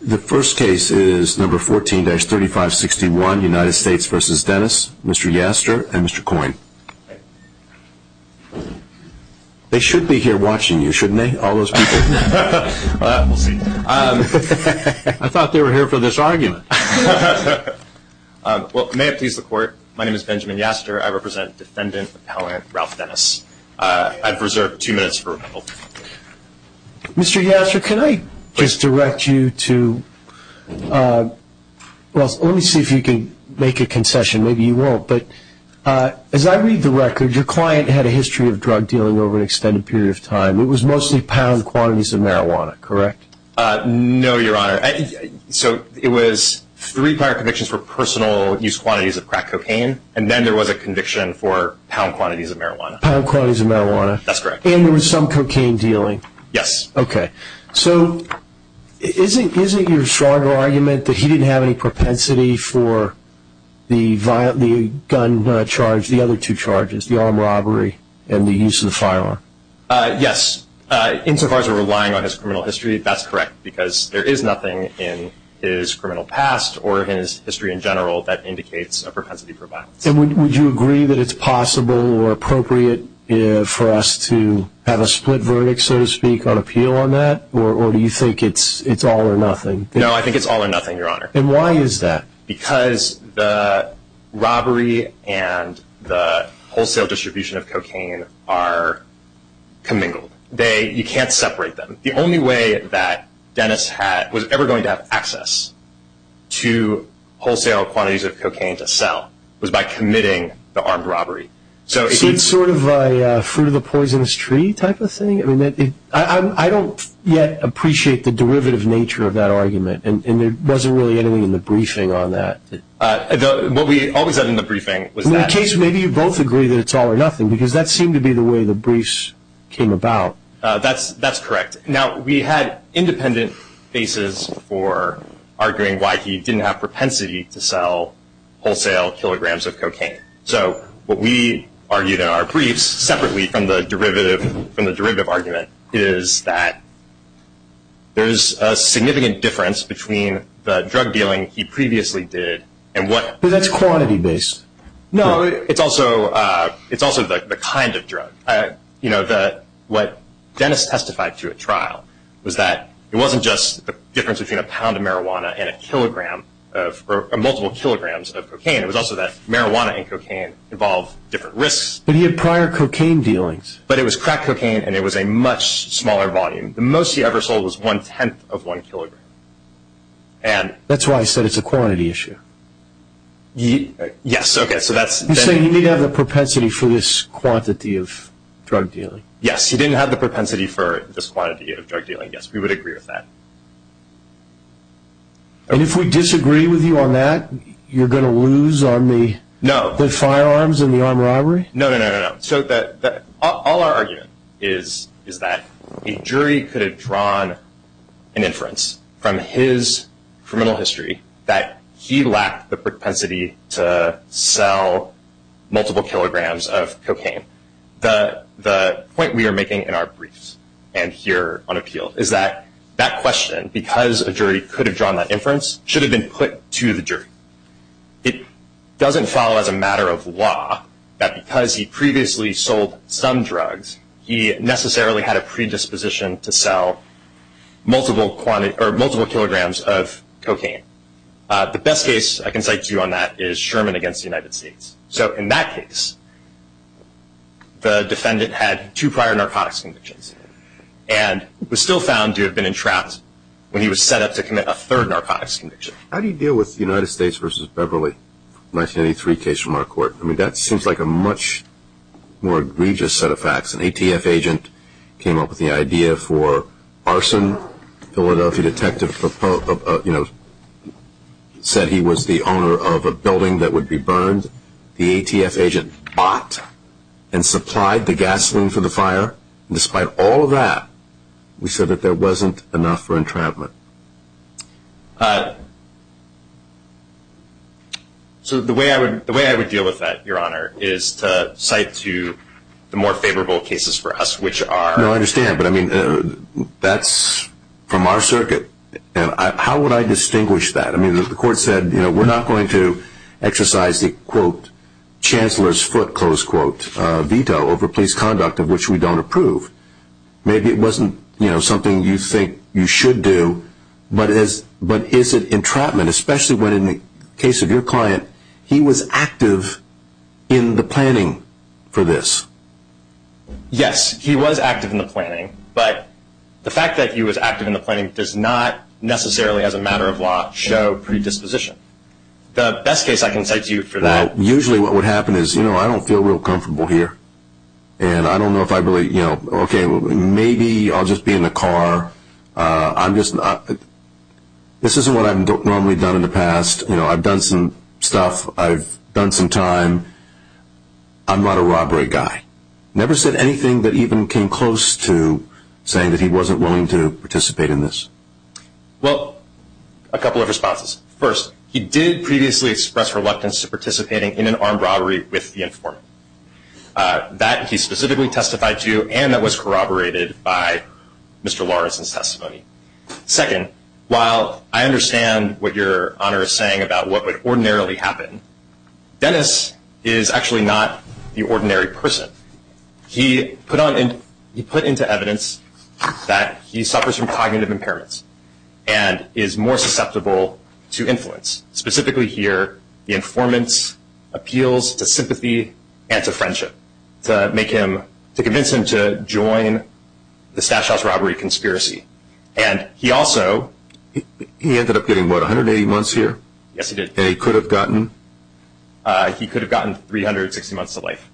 The first case is number 14-3561, United States v. Dennis, Mr. Yaster and Mr. Coyne. They should be here watching you, shouldn't they, all those people? We'll see. I thought they were here for this argument. Well, may it please the court, my name is Benjamin Yaster. I represent Defendant Appellant Ralph Dennis. I've reserved two minutes for rebuttal. Mr. Yaster, can I just direct you to, well, let me see if you can make a concession. Maybe you won't. But as I read the record, your client had a history of drug dealing over an extended period of time. It was mostly pound quantities of marijuana, correct? No, Your Honor. So it was three prior convictions for personal use quantities of crack cocaine, and then there was a conviction for pound quantities of marijuana. Pound quantities of marijuana. That's correct. And there was some cocaine dealing. Yes. Okay. So is it your stronger argument that he didn't have any propensity for the gun charge, the other two charges, the armed robbery and the use of the firearm? Yes, insofar as we're relying on his criminal history, that's correct, because there is nothing in his criminal past or his history in general that indicates a propensity for violence. And would you agree that it's possible or appropriate for us to have a split verdict, so to speak, on appeal on that, or do you think it's all or nothing? No, I think it's all or nothing, Your Honor. And why is that? Because the robbery and the wholesale distribution of cocaine are commingled. You can't separate them. The only way that Dennis was ever going to have access to wholesale quantities of cocaine to sell was by committing the armed robbery. So it's sort of a fruit-of-the-poisonous-tree type of thing? I don't yet appreciate the derivative nature of that argument, and there wasn't really anything in the briefing on that. What we always had in the briefing was that. In that case, maybe you both agree that it's all or nothing, because that seemed to be the way the briefs came about. That's correct. Now, we had independent bases for arguing why he didn't have propensity to sell wholesale kilograms of cocaine. So what we argued in our briefs, separately from the derivative argument, is that there's a significant difference between the drug dealing he previously did and what he did. But that's quantity-based. What Dennis testified to at trial was that it wasn't just the difference between a pound of marijuana and multiple kilograms of cocaine. It was also that marijuana and cocaine involved different risks. But he had prior cocaine dealings. But it was crack cocaine, and it was a much smaller volume. The most he ever sold was one-tenth of one kilogram. That's why I said it's a quantity issue. Yes. You're saying he didn't have the propensity for this quantity of drug dealing. Yes, he didn't have the propensity for this quantity of drug dealing. Yes, we would agree with that. And if we disagree with you on that, you're going to lose on the firearms and the armed robbery? No, no, no. All our argument is that a jury could have drawn an inference from his criminal history that he lacked the propensity to sell multiple kilograms of cocaine. The point we are making in our briefs and here on appeal is that that question, because a jury could have drawn that inference, should have been put to the jury. It doesn't follow as a matter of law that because he previously sold some drugs, he necessarily had a predisposition to sell multiple kilograms of cocaine. The best case I can cite to you on that is Sherman v. United States. So in that case, the defendant had two prior narcotics convictions and was still found to have been entrapped when he was set up to commit a third narcotics conviction. How do you deal with the United States v. Beverly 1983 case from our court? I mean, that seems like a much more egregious set of facts. An ATF agent came up with the idea for arson. Philadelphia detective said he was the owner of a building that would be burned. The ATF agent bought and supplied the gasoline for the fire. Despite all of that, we said that there wasn't enough for entrapment. So the way I would deal with that, Your Honor, is to cite to the more favorable cases for us, which are- No, I understand, but I mean, that's from our circuit. How would I distinguish that? I mean, the court said, you know, we're not going to exercise the, quote, Chancellor's foot, close quote, veto over police conduct of which we don't approve. Maybe it wasn't, you know, something you think you should do, but is it entrapment, especially when, in the case of your client, he was active in the planning for this? Yes, he was active in the planning, but the fact that he was active in the planning does not necessarily, as a matter of law, show predisposition. The best case I can cite to you for that- Well, usually what would happen is, you know, I don't feel real comfortable here, and I don't know if I really, you know, okay, maybe I'll just be in the car. I'm just not-this isn't what I've normally done in the past. You know, I've done some stuff. I've done some time. I'm not a robbery guy. Never said anything that even came close to saying that he wasn't willing to participate in this. Well, a couple of responses. First, he did previously express reluctance to participating in an armed robbery with the informant. That, he specifically testified to, and that was corroborated by Mr. Lawrence's testimony. Second, while I understand what Your Honor is saying about what would ordinarily happen, Dennis is actually not the ordinary person. He put into evidence that he suffers from cognitive impairments and is more susceptible to influence. Specifically here, the informant appeals to sympathy and to friendship to make him-to convince him to join the Stash House robbery conspiracy. And he also- He ended up getting, what, 180 months here? Yes, he did. And he could have gotten? He could have gotten 360 months to life.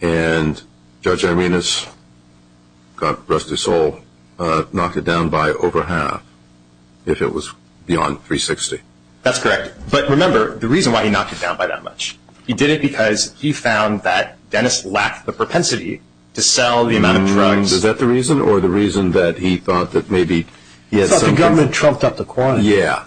And Judge Arenas, God rest his soul, knocked it down by over half if it was beyond 360. That's correct. But remember, the reason why he knocked it down by that much, he did it because he found that Dennis lacked the propensity to sell the amount of drugs. Is that the reason, or the reason that he thought that maybe he had something- He thought the government trumped up the quantity. Yeah.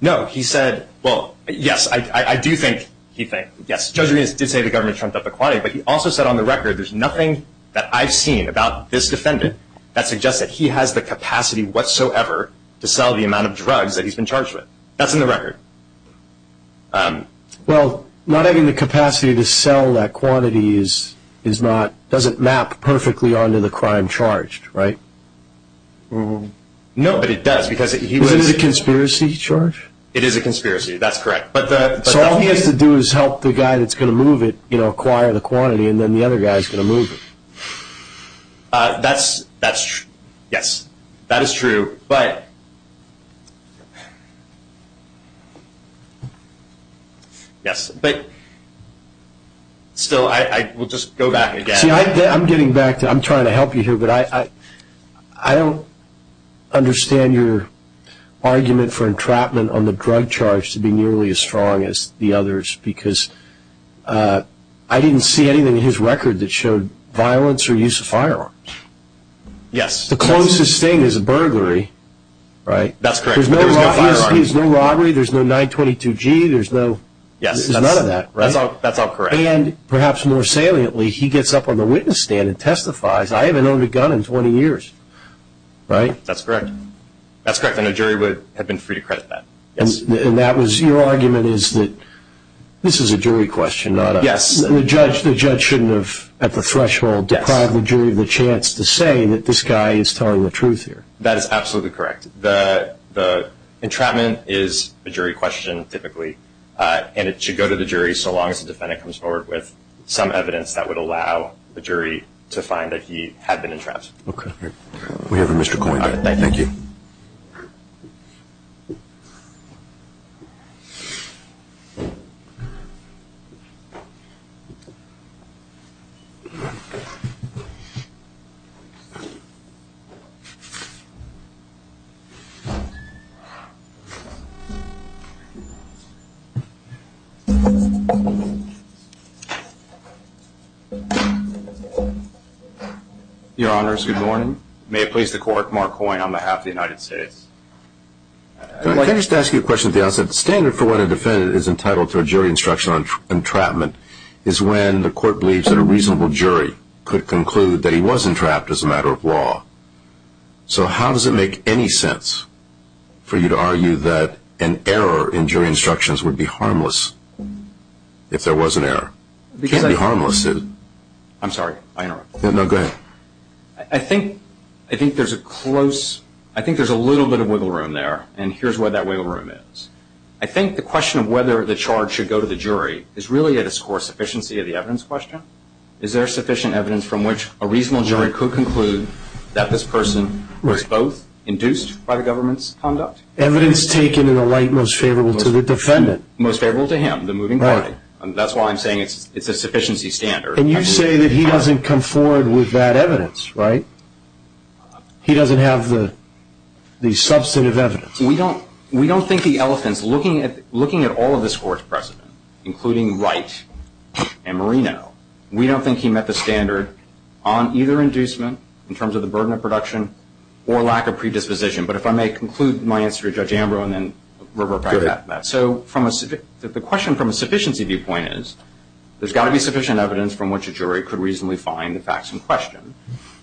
No, he said- Well, yes, I do think- He thinks- Yes, Judge Arenas did say the government trumped up the quantity, but he also said on the record there's nothing that I've seen about this defendant that suggests that he has the capacity whatsoever to sell the amount of drugs that he's been charged with. That's in the record. Well, not having the capacity to sell that quantity is not- doesn't map perfectly onto the crime charged, right? No, but it does because he was- Is it a conspiracy, George? It is a conspiracy. That's correct. But the- So all he has to do is help the guy that's going to move it acquire the quantity, and then the other guy is going to move it. That's true. Yes, that is true, but- Yes, but still, I will just go back again. See, I'm getting back to-I'm trying to help you here, but I don't understand your argument for entrapment on the drug charge to be nearly as strong as the others because I didn't see anything in his record that showed violence or use of firearms. Yes. The closest thing is a burglary, right? That's correct. There's no robbery, there's no 922G, there's no- Yes. There's none of that, right? That's all correct. And perhaps more saliently, he gets up on the witness stand and testifies. I haven't owned a gun in 20 years, right? That's correct. That's correct, and a jury would have been free to credit that. Yes. And that was-your argument is that this is a jury question, not a- Yes. The judge shouldn't have, at the threshold, deprived the jury of the chance to say that this guy is telling the truth here. That is absolutely correct. The entrapment is a jury question, typically, and it should go to the jury so long as the defendant comes forward with some evidence that would allow the jury to find that he had been entrapped. Okay. We have a Mr. Coyne. Thank you. Thank you. Your Honors, good morning. May it please the Court, Mark Coyne on behalf of the United States. Can I just ask you a question at the outset? The standard for when a defendant is entitled to a jury instruction on entrapment is when the court believes that a reasonable jury could conclude that he was entrapped as a matter of law. So how does it make any sense for you to argue that an error in jury instructions would be harmless if there was an error? It can't be harmless. I'm sorry. I interrupted. No, go ahead. I think there's a little bit of wiggle room there, and here's where that wiggle room is. I think the question of whether the charge should go to the jury is really at its core a sufficiency of the evidence question. Is there sufficient evidence from which a reasonable jury could conclude that this person was both induced by the government's conduct? Evidence taken in a light most favorable to the defendant. Most favorable to him, the moving party. That's why I'm saying it's a sufficiency standard. And you say that he doesn't come forward with that evidence, right? He doesn't have the substantive evidence. We don't think the elephant is looking at all of this court's precedent, including Wright and Marino. We don't think he met the standard on either inducement in terms of the burden of production or lack of predisposition. But if I may conclude my answer to Judge Ambro and then revert back to that. So the question from a sufficiency viewpoint is there's got to be sufficient evidence from which a jury could reasonably find the facts in question.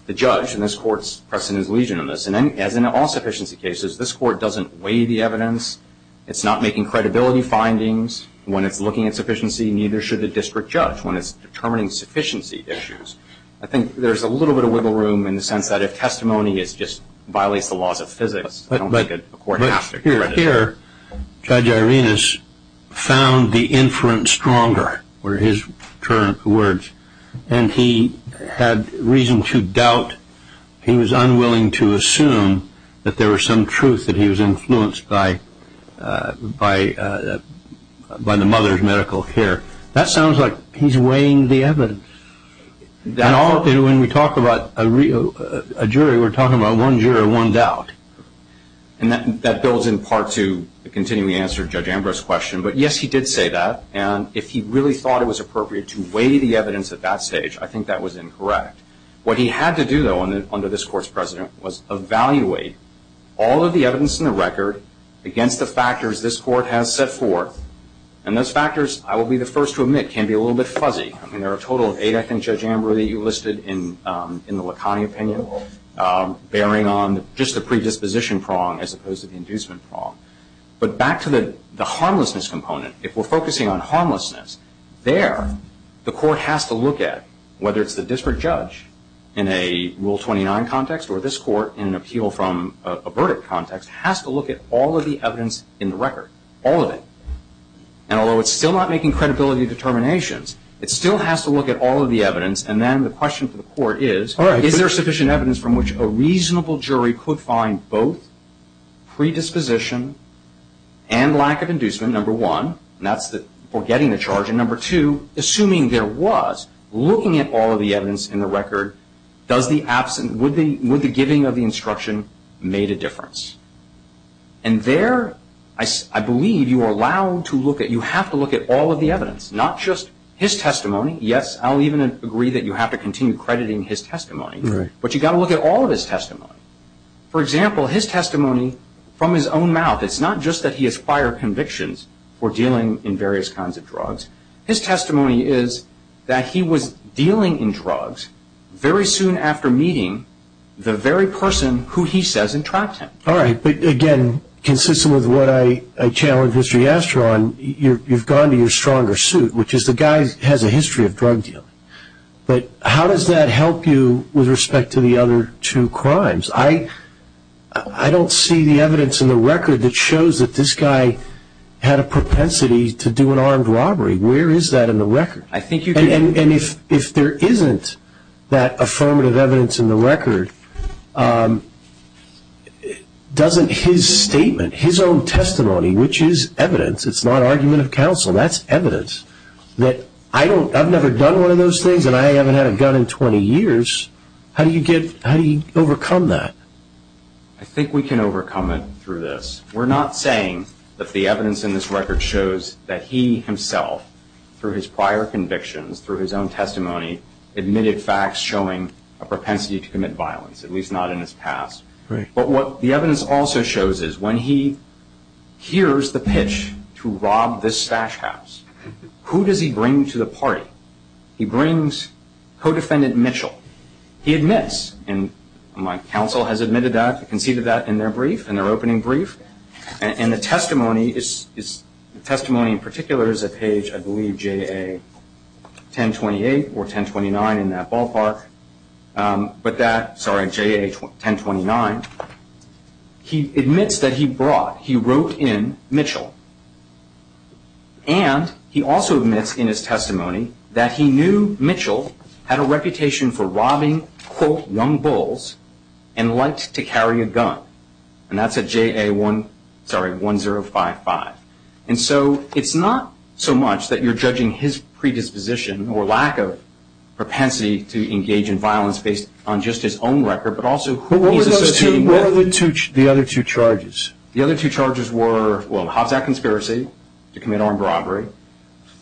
The judge in this court's precedent is legion in this. And as in all sufficiency cases, this court doesn't weigh the evidence. It's not making credibility findings when it's looking at sufficiency, neither should the district judge when it's determining sufficiency issues. I think there's a little bit of wiggle room in the sense that if testimony just violates the laws of physics, I don't think a court has to correct it. But here, Judge Irenas found the inference stronger were his words. And he had reason to doubt he was unwilling to assume that there was some truth that he was influenced by the mother's medical care. That sounds like he's weighing the evidence. And all of it when we talk about a jury, we're talking about one jury, one doubt. And that builds in part to the continuing answer to Judge Ambrose's question. But, yes, he did say that. And if he really thought it was appropriate to weigh the evidence at that stage, I think that was incorrect. What he had to do, though, under this court's precedent was evaluate all of the evidence in the record against the factors this court has set forth. And those factors, I will be the first to admit, can be a little bit fuzzy. I mean, there are a total of eight, I think, Judge Ambrose, that you listed in the Lacani opinion, bearing on just the predisposition prong as opposed to the inducement prong. But back to the harmlessness component, if we're focusing on harmlessness, there the court has to look at, whether it's the district judge in a Rule 29 context or this court in an appeal from a verdict context, has to look at all of the evidence in the record, all of it. And although it's still not making credibility determinations, it still has to look at all of the evidence. And then the question for the court is, is there sufficient evidence from which a reasonable jury could find both predisposition and lack of inducement, number one, for getting the charge, and number two, assuming there was, looking at all of the evidence in the record, would the giving of the instruction made a difference? And there I believe you are allowed to look at, you have to look at all of the evidence, not just his testimony. Yes, I'll even agree that you have to continue crediting his testimony, but you've got to look at all of his testimony. For example, his testimony from his own mouth, it's not just that he has prior convictions for dealing in various kinds of drugs. His testimony is that he was dealing in drugs very soon after meeting the very person who he says entrapped him. All right, but again, consistent with what I challenged Mr. Yastrow on, you've gone to your stronger suit, which is the guy has a history of drug dealing. But how does that help you with respect to the other two crimes? I don't see the evidence in the record that shows that this guy had a propensity to do an armed robbery. Where is that in the record? And if there isn't that affirmative evidence in the record, doesn't his statement, his own testimony, which is evidence, it's not argument of counsel, that's evidence, that I've never done one of those things and I haven't had a gun in 20 years, how do you overcome that? I think we can overcome it through this. We're not saying that the evidence in this record shows that he himself, through his prior convictions, through his own testimony, admitted facts showing a propensity to commit violence, at least not in his past. But what the evidence also shows is when he hears the pitch to rob this stash house, who does he bring to the party? He brings Codefendant Mitchell. He admits, and my counsel has admitted that, conceded that in their brief, in their opening brief, and the testimony in particular is at page, I believe, JA 1028 or 1029 in that ballpark. But that, sorry, JA 1029, he admits that he brought, he wrote in Mitchell. And he also admits in his testimony that he knew Mitchell had a reputation for robbing, quote, young bulls and liked to carry a gun. And that's at JA 1055. And so it's not so much that you're judging his predisposition or lack of propensity to engage in violence based on just his own record, but also who he's associating with. What were the other two charges? The other two charges were, well, the Hobbs Act conspiracy to commit armed robbery,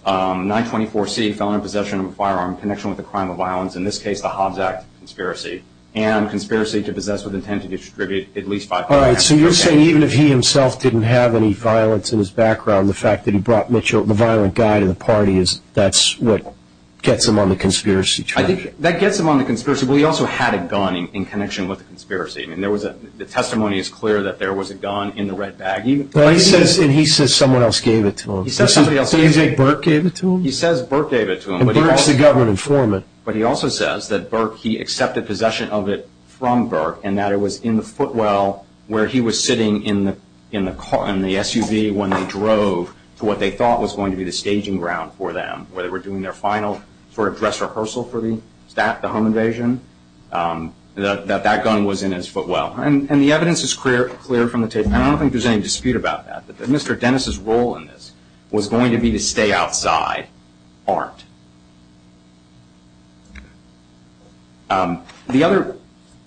924C, felon in possession of a firearm in connection with a crime of violence, in this case, the Hobbs Act conspiracy, and conspiracy to possess with intent to distribute at least five pounds. All right. So you're saying even if he himself didn't have any violence in his background, the fact that he brought Mitchell, the violent guy, to the party, that's what gets him on the conspiracy trail? I think that gets him on the conspiracy. But he also had a gun in connection with the conspiracy. The testimony is clear that there was a gun in the red bag. But he says someone else gave it to him. He says somebody else gave it to him. Did he say Burke gave it to him? He says Burke gave it to him. And Burke's the government informant. But he also says that Burke, he accepted possession of it from Burke, and that it was in the footwell where he was sitting in the SUV when they drove to what they thought was going to be the staging ground for them, where they were doing their final sort of dress rehearsal for the home invasion. That that gun was in his footwell. And the evidence is clear from the tape. I don't think there's any dispute about that, that Mr. Dennis' role in this was going to be to stay outside art. The other,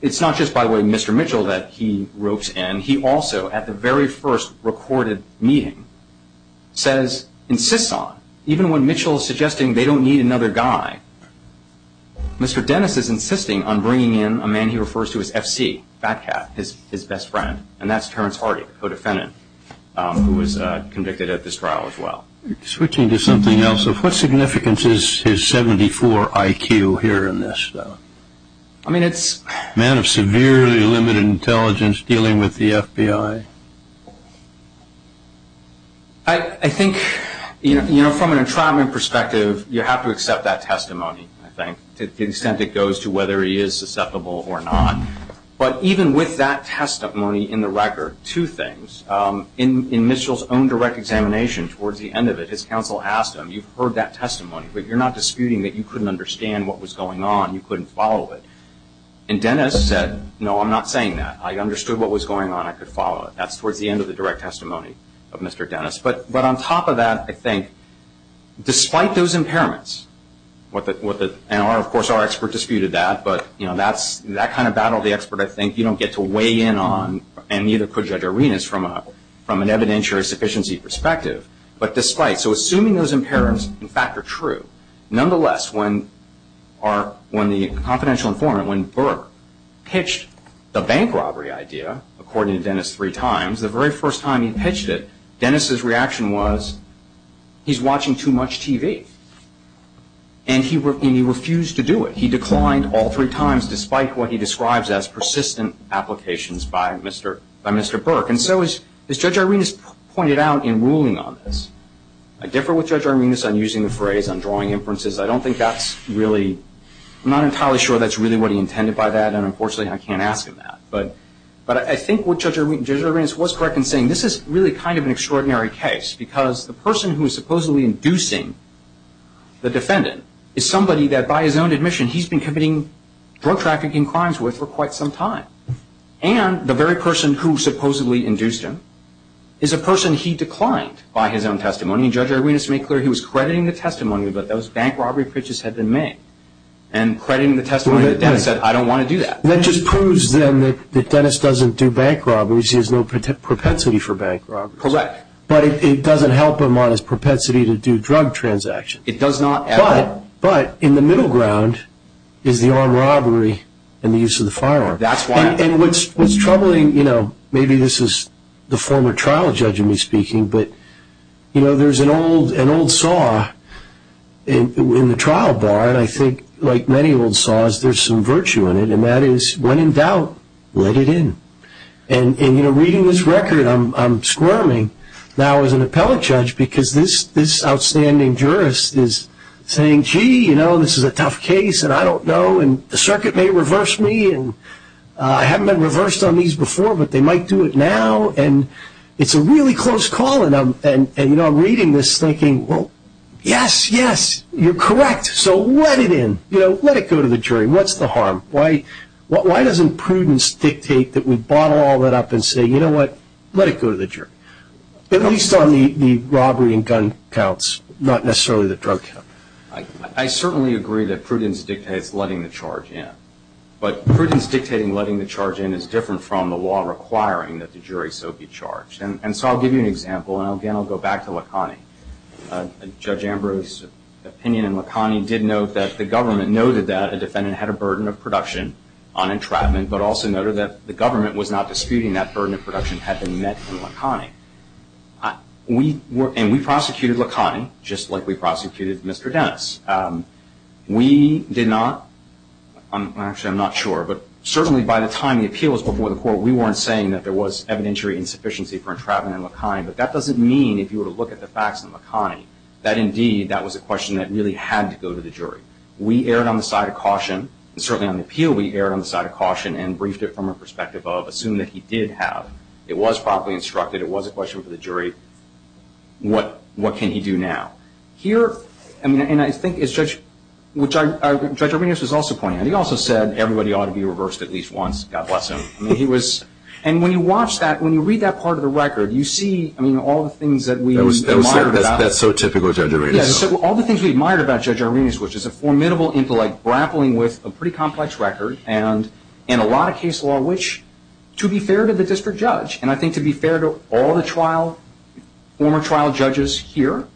it's not just, by the way, Mr. Mitchell that he ropes in. He also, at the very first recorded meeting, says, insists on, even when Mitchell is suggesting they don't need another guy, Mr. Dennis is insisting on bringing in a man he refers to as F.C., Batcat, his best friend. And that's Terrence Hardy, co-defendant, who was convicted at this trial as well. Switching to something else, what significance is his 74 IQ here in this, though? I mean, it's – Man of severely limited intelligence dealing with the FBI. I think, you know, from an entrapment perspective, you have to accept that testimony, I think, to the extent it goes to whether he is susceptible or not. But even with that testimony in the record, two things. In Mitchell's own direct examination towards the end of it, his counsel asked him, you've heard that testimony, but you're not disputing that you couldn't understand what was going on. You couldn't follow it. And Dennis said, no, I'm not saying that. I understood what was going on. I could follow it. That's towards the end of the direct testimony of Mr. Dennis. But on top of that, I think, despite those impairments, and of course our expert disputed that, but that kind of battle of the expert, I think, you don't get to weigh in on, and neither could Judge Arenas, from an evidentiary sufficiency perspective. But despite – so assuming those impairments, in fact, are true, nonetheless, when the confidential informant, when Burke, pitched the bank robbery idea, according to Dennis, three times, the very first time he pitched it, Dennis's reaction was, he's watching too much TV. And he refused to do it. He declined all three times, despite what he describes as persistent applications by Mr. Burke. And so, as Judge Arenas pointed out in ruling on this, I differ with Judge Arenas on using the phrase, on drawing inferences. I don't think that's really – unfortunately, I can't ask him that. But I think what Judge Arenas was correct in saying, this is really kind of an extraordinary case, because the person who is supposedly inducing the defendant is somebody that, by his own admission, he's been committing drug trafficking crimes with for quite some time. And the very person who supposedly induced him is a person he declined by his own testimony. And Judge Arenas made clear he was crediting the testimony that those bank robbery pitches had been made, and crediting the testimony that Dennis said, I don't want to do that. That just proves, then, that Dennis doesn't do bank robberies. He has no propensity for bank robberies. Correct. But it doesn't help him on his propensity to do drug transactions. It does not at all. But, in the middle ground, is the armed robbery and the use of the firearm. That's why – And what's troubling, you know, maybe this is the former trial judge in me speaking, but, you know, there's an old saw in the trial bar, and I think, like many old saws, there's some virtue in it. And that is, when in doubt, let it in. And, you know, reading this record, I'm squirming now as an appellate judge because this outstanding jurist is saying, gee, you know, this is a tough case, and I don't know, and the circuit may reverse me, and I haven't been reversed on these before, but they might do it now. And it's a really close call. And, you know, I'm reading this thinking, well, yes, yes, you're correct. So let it in. You know, let it go to the jury. What's the harm? Why doesn't prudence dictate that we bottle all that up and say, you know what, let it go to the jury? At least on the robbery and gun counts, not necessarily the drug count. I certainly agree that prudence dictates letting the charge in. But prudence dictating letting the charge in is different from the law requiring that the jury so be charged. Judge Ambrose's opinion in Lacani did note that the government noted that a defendant had a burden of production on entrapment but also noted that the government was not disputing that burden of production had been met in Lacani. And we prosecuted Lacani just like we prosecuted Mr. Dennis. We did not, actually I'm not sure, but certainly by the time the appeal was before the court we weren't saying that there was evidentiary insufficiency for entrapment in Lacani. But that doesn't mean, if you were to look at the facts in Lacani, that indeed that was a question that really had to go to the jury. We erred on the side of caution. Certainly on the appeal we erred on the side of caution and briefed it from a perspective of assume that he did have. It was properly instructed. It was a question for the jury. What can he do now? Here, I mean, and I think as Judge Ambrose was also pointing out, he also said everybody ought to be reversed at least once. God bless him. And when you watch that, when you read that part of the record, you see all the things that we admired about. That's so typical of Judge Arrhenius. All the things we admired about Judge Arrhenius, which is a formidable intellect grappling with a pretty complex record and a lot of case law, which, to be fair to the district judge, and I think to be fair to all the former trial judges here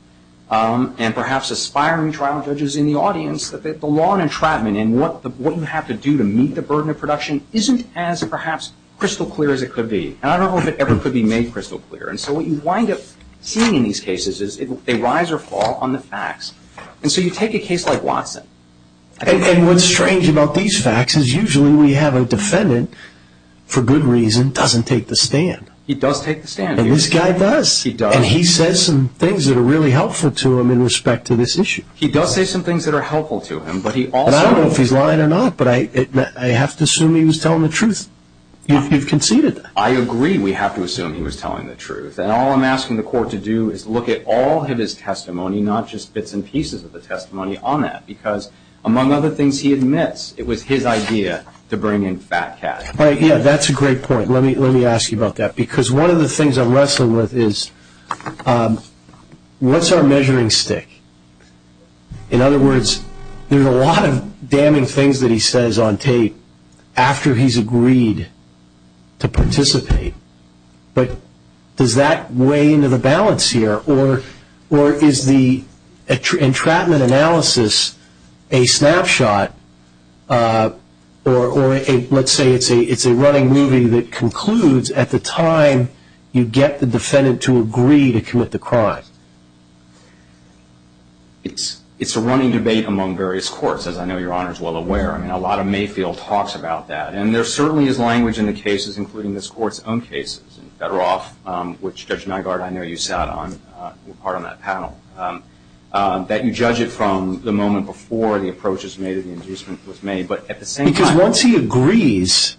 and perhaps aspiring trial judges in the audience, the law on entrapment and what you have to do to meet the burden of production isn't as perhaps crystal clear as it could be. And I don't know if it ever could be made crystal clear. And so what you wind up seeing in these cases is they rise or fall on the facts. And so you take a case like Watson. And what's strange about these facts is usually we have a defendant, for good reason, doesn't take the stand. He does take the stand. And this guy does. He does. And he says some things that are really helpful to him in respect to this issue. He does say some things that are helpful to him. But I don't know if he's lying or not, but I have to assume he was telling the truth. You've conceded that. I agree we have to assume he was telling the truth. And all I'm asking the court to do is look at all of his testimony, not just bits and pieces of the testimony, on that. Because, among other things, he admits it was his idea to bring in fat cash. Yeah, that's a great point. Let me ask you about that. Because one of the things I'm wrestling with is what's our measuring stick? In other words, there are a lot of damning things that he says on tape after he's agreed to participate. But does that weigh into the balance here? Or is the entrapment analysis a snapshot, or let's say it's a running movie that concludes at the time you get the defendant to agree to commit the crime? It's a running debate among various courts, as I know Your Honor is well aware. I mean, a lot of Mayfield talks about that. And there certainly is language in the cases, including this Court's own cases, and Federoff, which, Judge Nygaard, I know you sat on, were part of that panel, that you judge it from the moment before the approach was made and the inducement was made. Because once he agrees,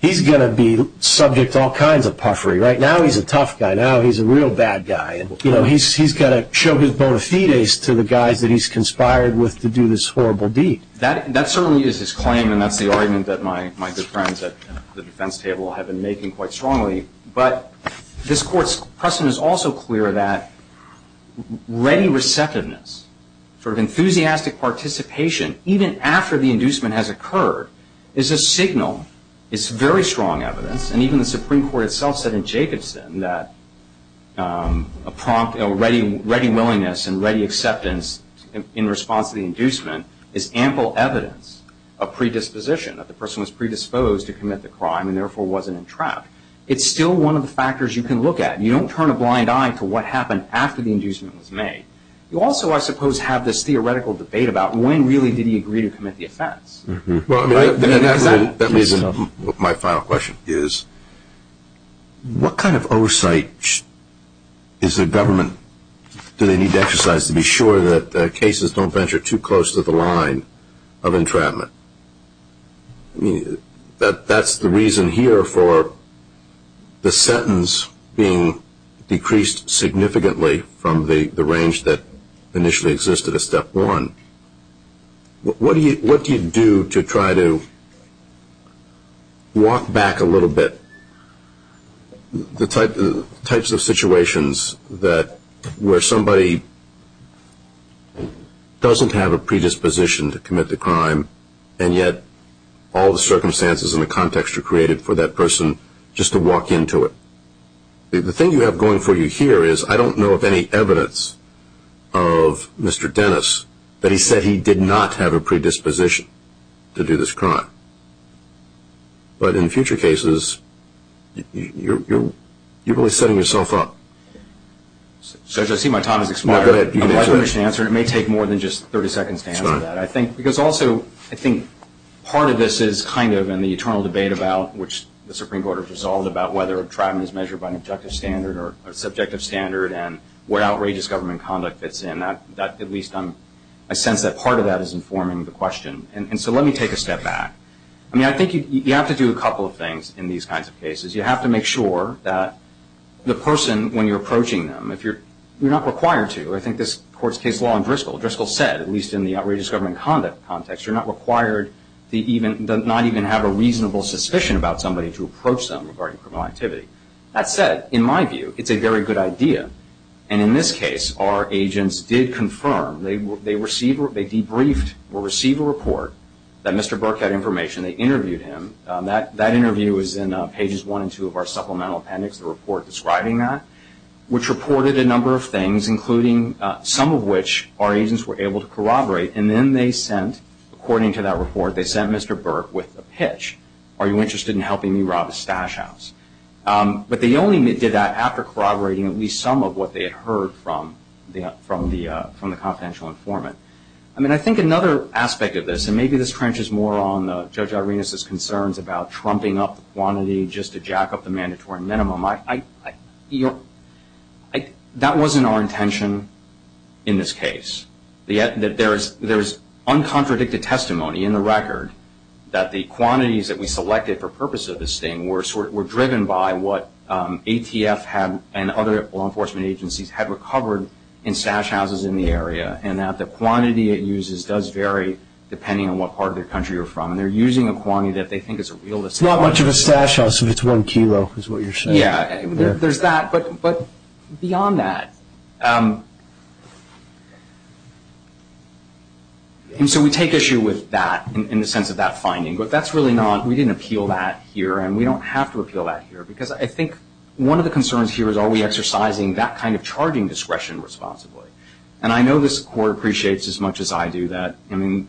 he's going to be subject to all kinds of puffery. Right now he's a tough guy. Now he's a real bad guy. He's got to show his bona fides to the guys that he's conspired with to do this horrible deed. That certainly is his claim, and that's the argument that my good friends at the defense table have been making quite strongly. But this Court's precedent is also clear that ready receptiveness, sort of enthusiastic participation, even after the inducement has occurred, is a signal. It's very strong evidence. And even the Supreme Court itself said in Jacobson that ready willingness and ready acceptance in response to the inducement is ample evidence of predisposition, that the person was predisposed to commit the crime and therefore wasn't entrapped. It's still one of the factors you can look at. You don't turn a blind eye to what happened after the inducement was made. You also, I suppose, have this theoretical debate about when really did he agree to commit the offense. My final question is, what kind of oversight is the government going to need to exercise to be sure that cases don't venture too close to the line of entrapment? I mean, that's the reason here for the sentence being decreased significantly from the range that initially existed at step one. What do you do to try to walk back a little bit the types of situations where somebody doesn't have a predisposition to commit the crime and yet all the circumstances and the context are created for that person just to walk into it? The thing you have going for you here is I don't know of any evidence of Mr. Dennis that he said he did not have a predisposition to do this crime. But in future cases, you're really setting yourself up. Judge, I see my time has expired. I'd like to finish and answer, and it may take more than just 30 seconds to answer that. Because also I think part of this is kind of in the internal debate about which the Supreme Court has resolved about whether entrapment is measured by an objective standard or a subjective standard and what outrageous government conduct fits in. At least I sense that part of that is informing the question. So let me take a step back. I think you have to do a couple of things in these kinds of cases. You have to make sure that the person when you're approaching them, you're not required to. I think this court's case law in Driscoll said, at least in the outrageous government conduct context, you're not required to not even have a reasonable suspicion about somebody to approach them regarding criminal activity. That said, in my view, it's a very good idea. And in this case, our agents did confirm, they debriefed or received a report that Mr. Burke had information. They interviewed him. That interview is in pages one and two of our supplemental appendix, the report describing that, which reported a number of things, including some of which our agents were able to corroborate. And then they sent, according to that report, they sent Mr. Burke with a pitch. Are you interested in helping me rob a stash house? But they only did that after corroborating at least some of what they had heard from the confidential informant. I mean, I think another aspect of this, and maybe this trenches more on Judge Arenas' concerns about trumping up the quantity just to jack up the mandatory minimum. That wasn't our intention in this case. There's uncontradicted testimony in the record that the quantities that we selected for purpose of this thing were driven by what ATF and other law enforcement agencies had recovered in stash houses in the area, and that the quantity it uses does vary depending on what part of the country you're from. And they're using a quantity that they think is a realistic one. It's not much of a stash house if it's one kilo is what you're saying. Yeah, there's that. But beyond that, and so we take issue with that in the sense of that finding. But that's really not, we didn't appeal that here, and we don't have to appeal that here. Because I think one of the concerns here is are we exercising that kind of charging discretion responsibly? And I know this Court appreciates as much as I do that. I mean,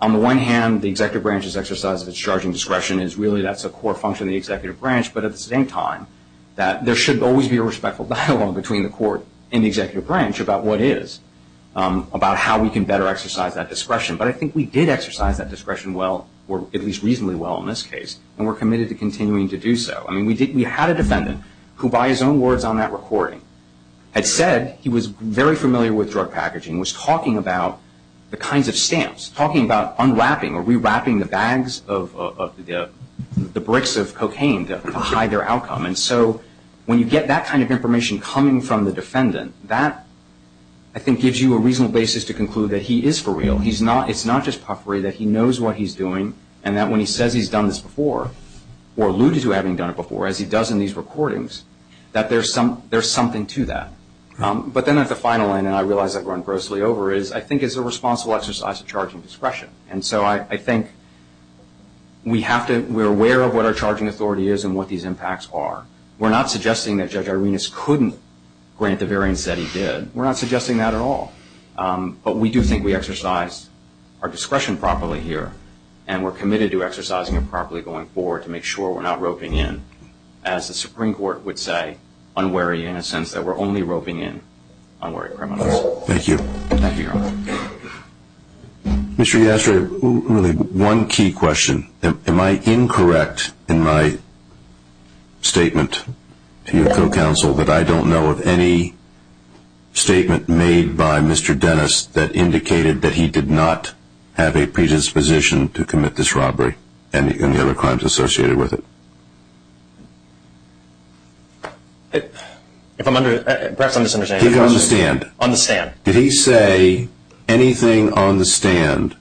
on the one hand, the Executive Branch's exercise of its charging discretion is really that's a core function of the Executive Branch. But at the same time, there should always be a respectful dialogue between the Court and the Executive Branch about what is, about how we can better exercise that discretion. But I think we did exercise that discretion well, or at least reasonably well in this case, and we're committed to continuing to do so. I mean, we had a defendant who, by his own words on that recording, had said he was very familiar with drug packaging, was talking about the kinds of stamps, talking about unwrapping or rewrapping the bags of the bricks of cocaine to hide their outcome. And so when you get that kind of information coming from the defendant, that I think gives you a reasonable basis to conclude that he is for real. It's not just puffery, that he knows what he's doing and that when he says he's done this before or alluded to having done it before, as he does in these recordings, that there's something to that. But then at the final end, and I realize I've run grossly over it, I think it's a responsible exercise of charging discretion. And so I think we're aware of what our charging authority is and what these impacts are. We're not suggesting that Judge Arenas couldn't grant the variance that he did. We're not suggesting that at all. But we do think we exercise our discretion properly here, and we're committed to exercising it properly going forward to make sure we're not roping in, as the Supreme Court would say, unwary in a sense that we're only roping in unwary criminals. Thank you. Thank you, Your Honor. Mr. Yastra, really one key question. Am I incorrect in my statement to you and co-counsel that I don't know of any statement made by Mr. Dennis that indicated that he did not have a predisposition to commit this robbery and the other crimes associated with it? Perhaps I'm misunderstanding. He did on the stand. On the stand. Did he say anything on the stand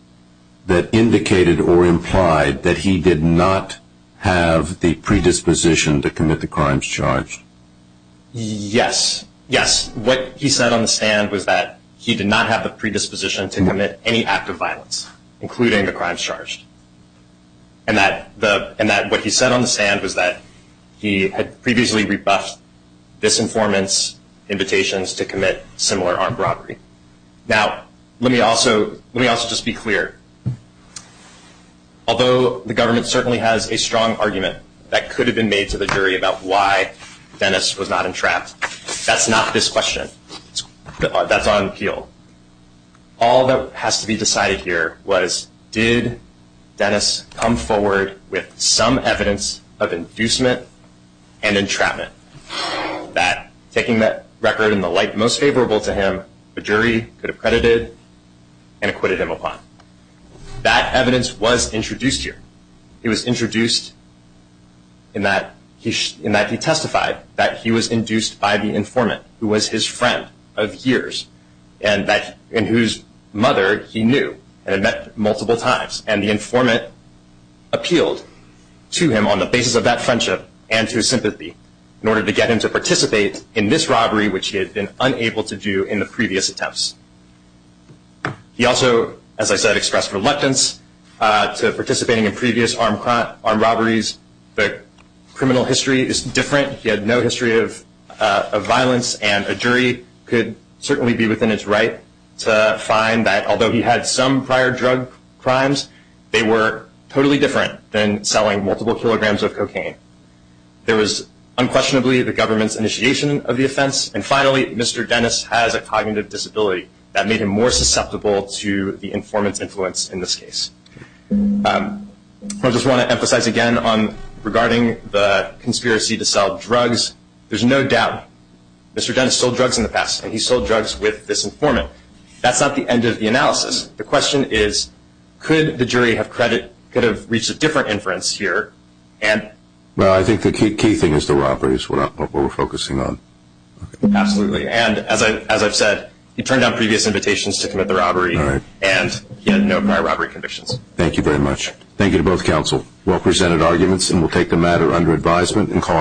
that indicated or implied that he did not have the predisposition to commit the crimes charged? Yes. Yes. What he said on the stand was that he did not have the predisposition to commit any act of violence, including the crimes charged, and that what he said on the stand was that he had previously rebuffed disinformants' invitations to commit similar armed robbery. Now, let me also just be clear. Although the government certainly has a strong argument that could have been made to the jury about why Dennis was not entrapped, that's not this question. That's on appeal. All that has to be decided here was did Dennis come forward with some evidence of inducement and entrapment that, taking that record in the light most favorable to him, a jury could have credited and acquitted him upon. That evidence was introduced here. It was introduced in that he testified that he was induced by the informant, who was his friend of years and whose mother he knew and had met multiple times. And the informant appealed to him on the basis of that friendship and to his sympathy in order to get him to participate in this robbery, which he had been unable to do in the previous attempts. He also, as I said, expressed reluctance to participating in previous armed robberies. The criminal history is different. He had no history of violence, and a jury could certainly be within its right to find that, although he had some prior drug crimes, they were totally different than selling multiple kilograms of cocaine. There was unquestionably the government's initiation of the offense. And finally, Mr. Dennis has a cognitive disability. That made him more susceptible to the informant's influence in this case. I just want to emphasize again regarding the conspiracy to sell drugs. There's no doubt Mr. Dennis sold drugs in the past, and he sold drugs with this informant. That's not the end of the analysis. The question is, could the jury have reached a different inference here? Well, I think the key thing is the robbery is what we're focusing on. Absolutely. And as I've said, he turned down previous invitations to commit the robbery, and he had no prior robbery convictions. Thank you very much. Thank you to both counsel. Well presented arguments, and we'll take the matter under advisement and call it a day.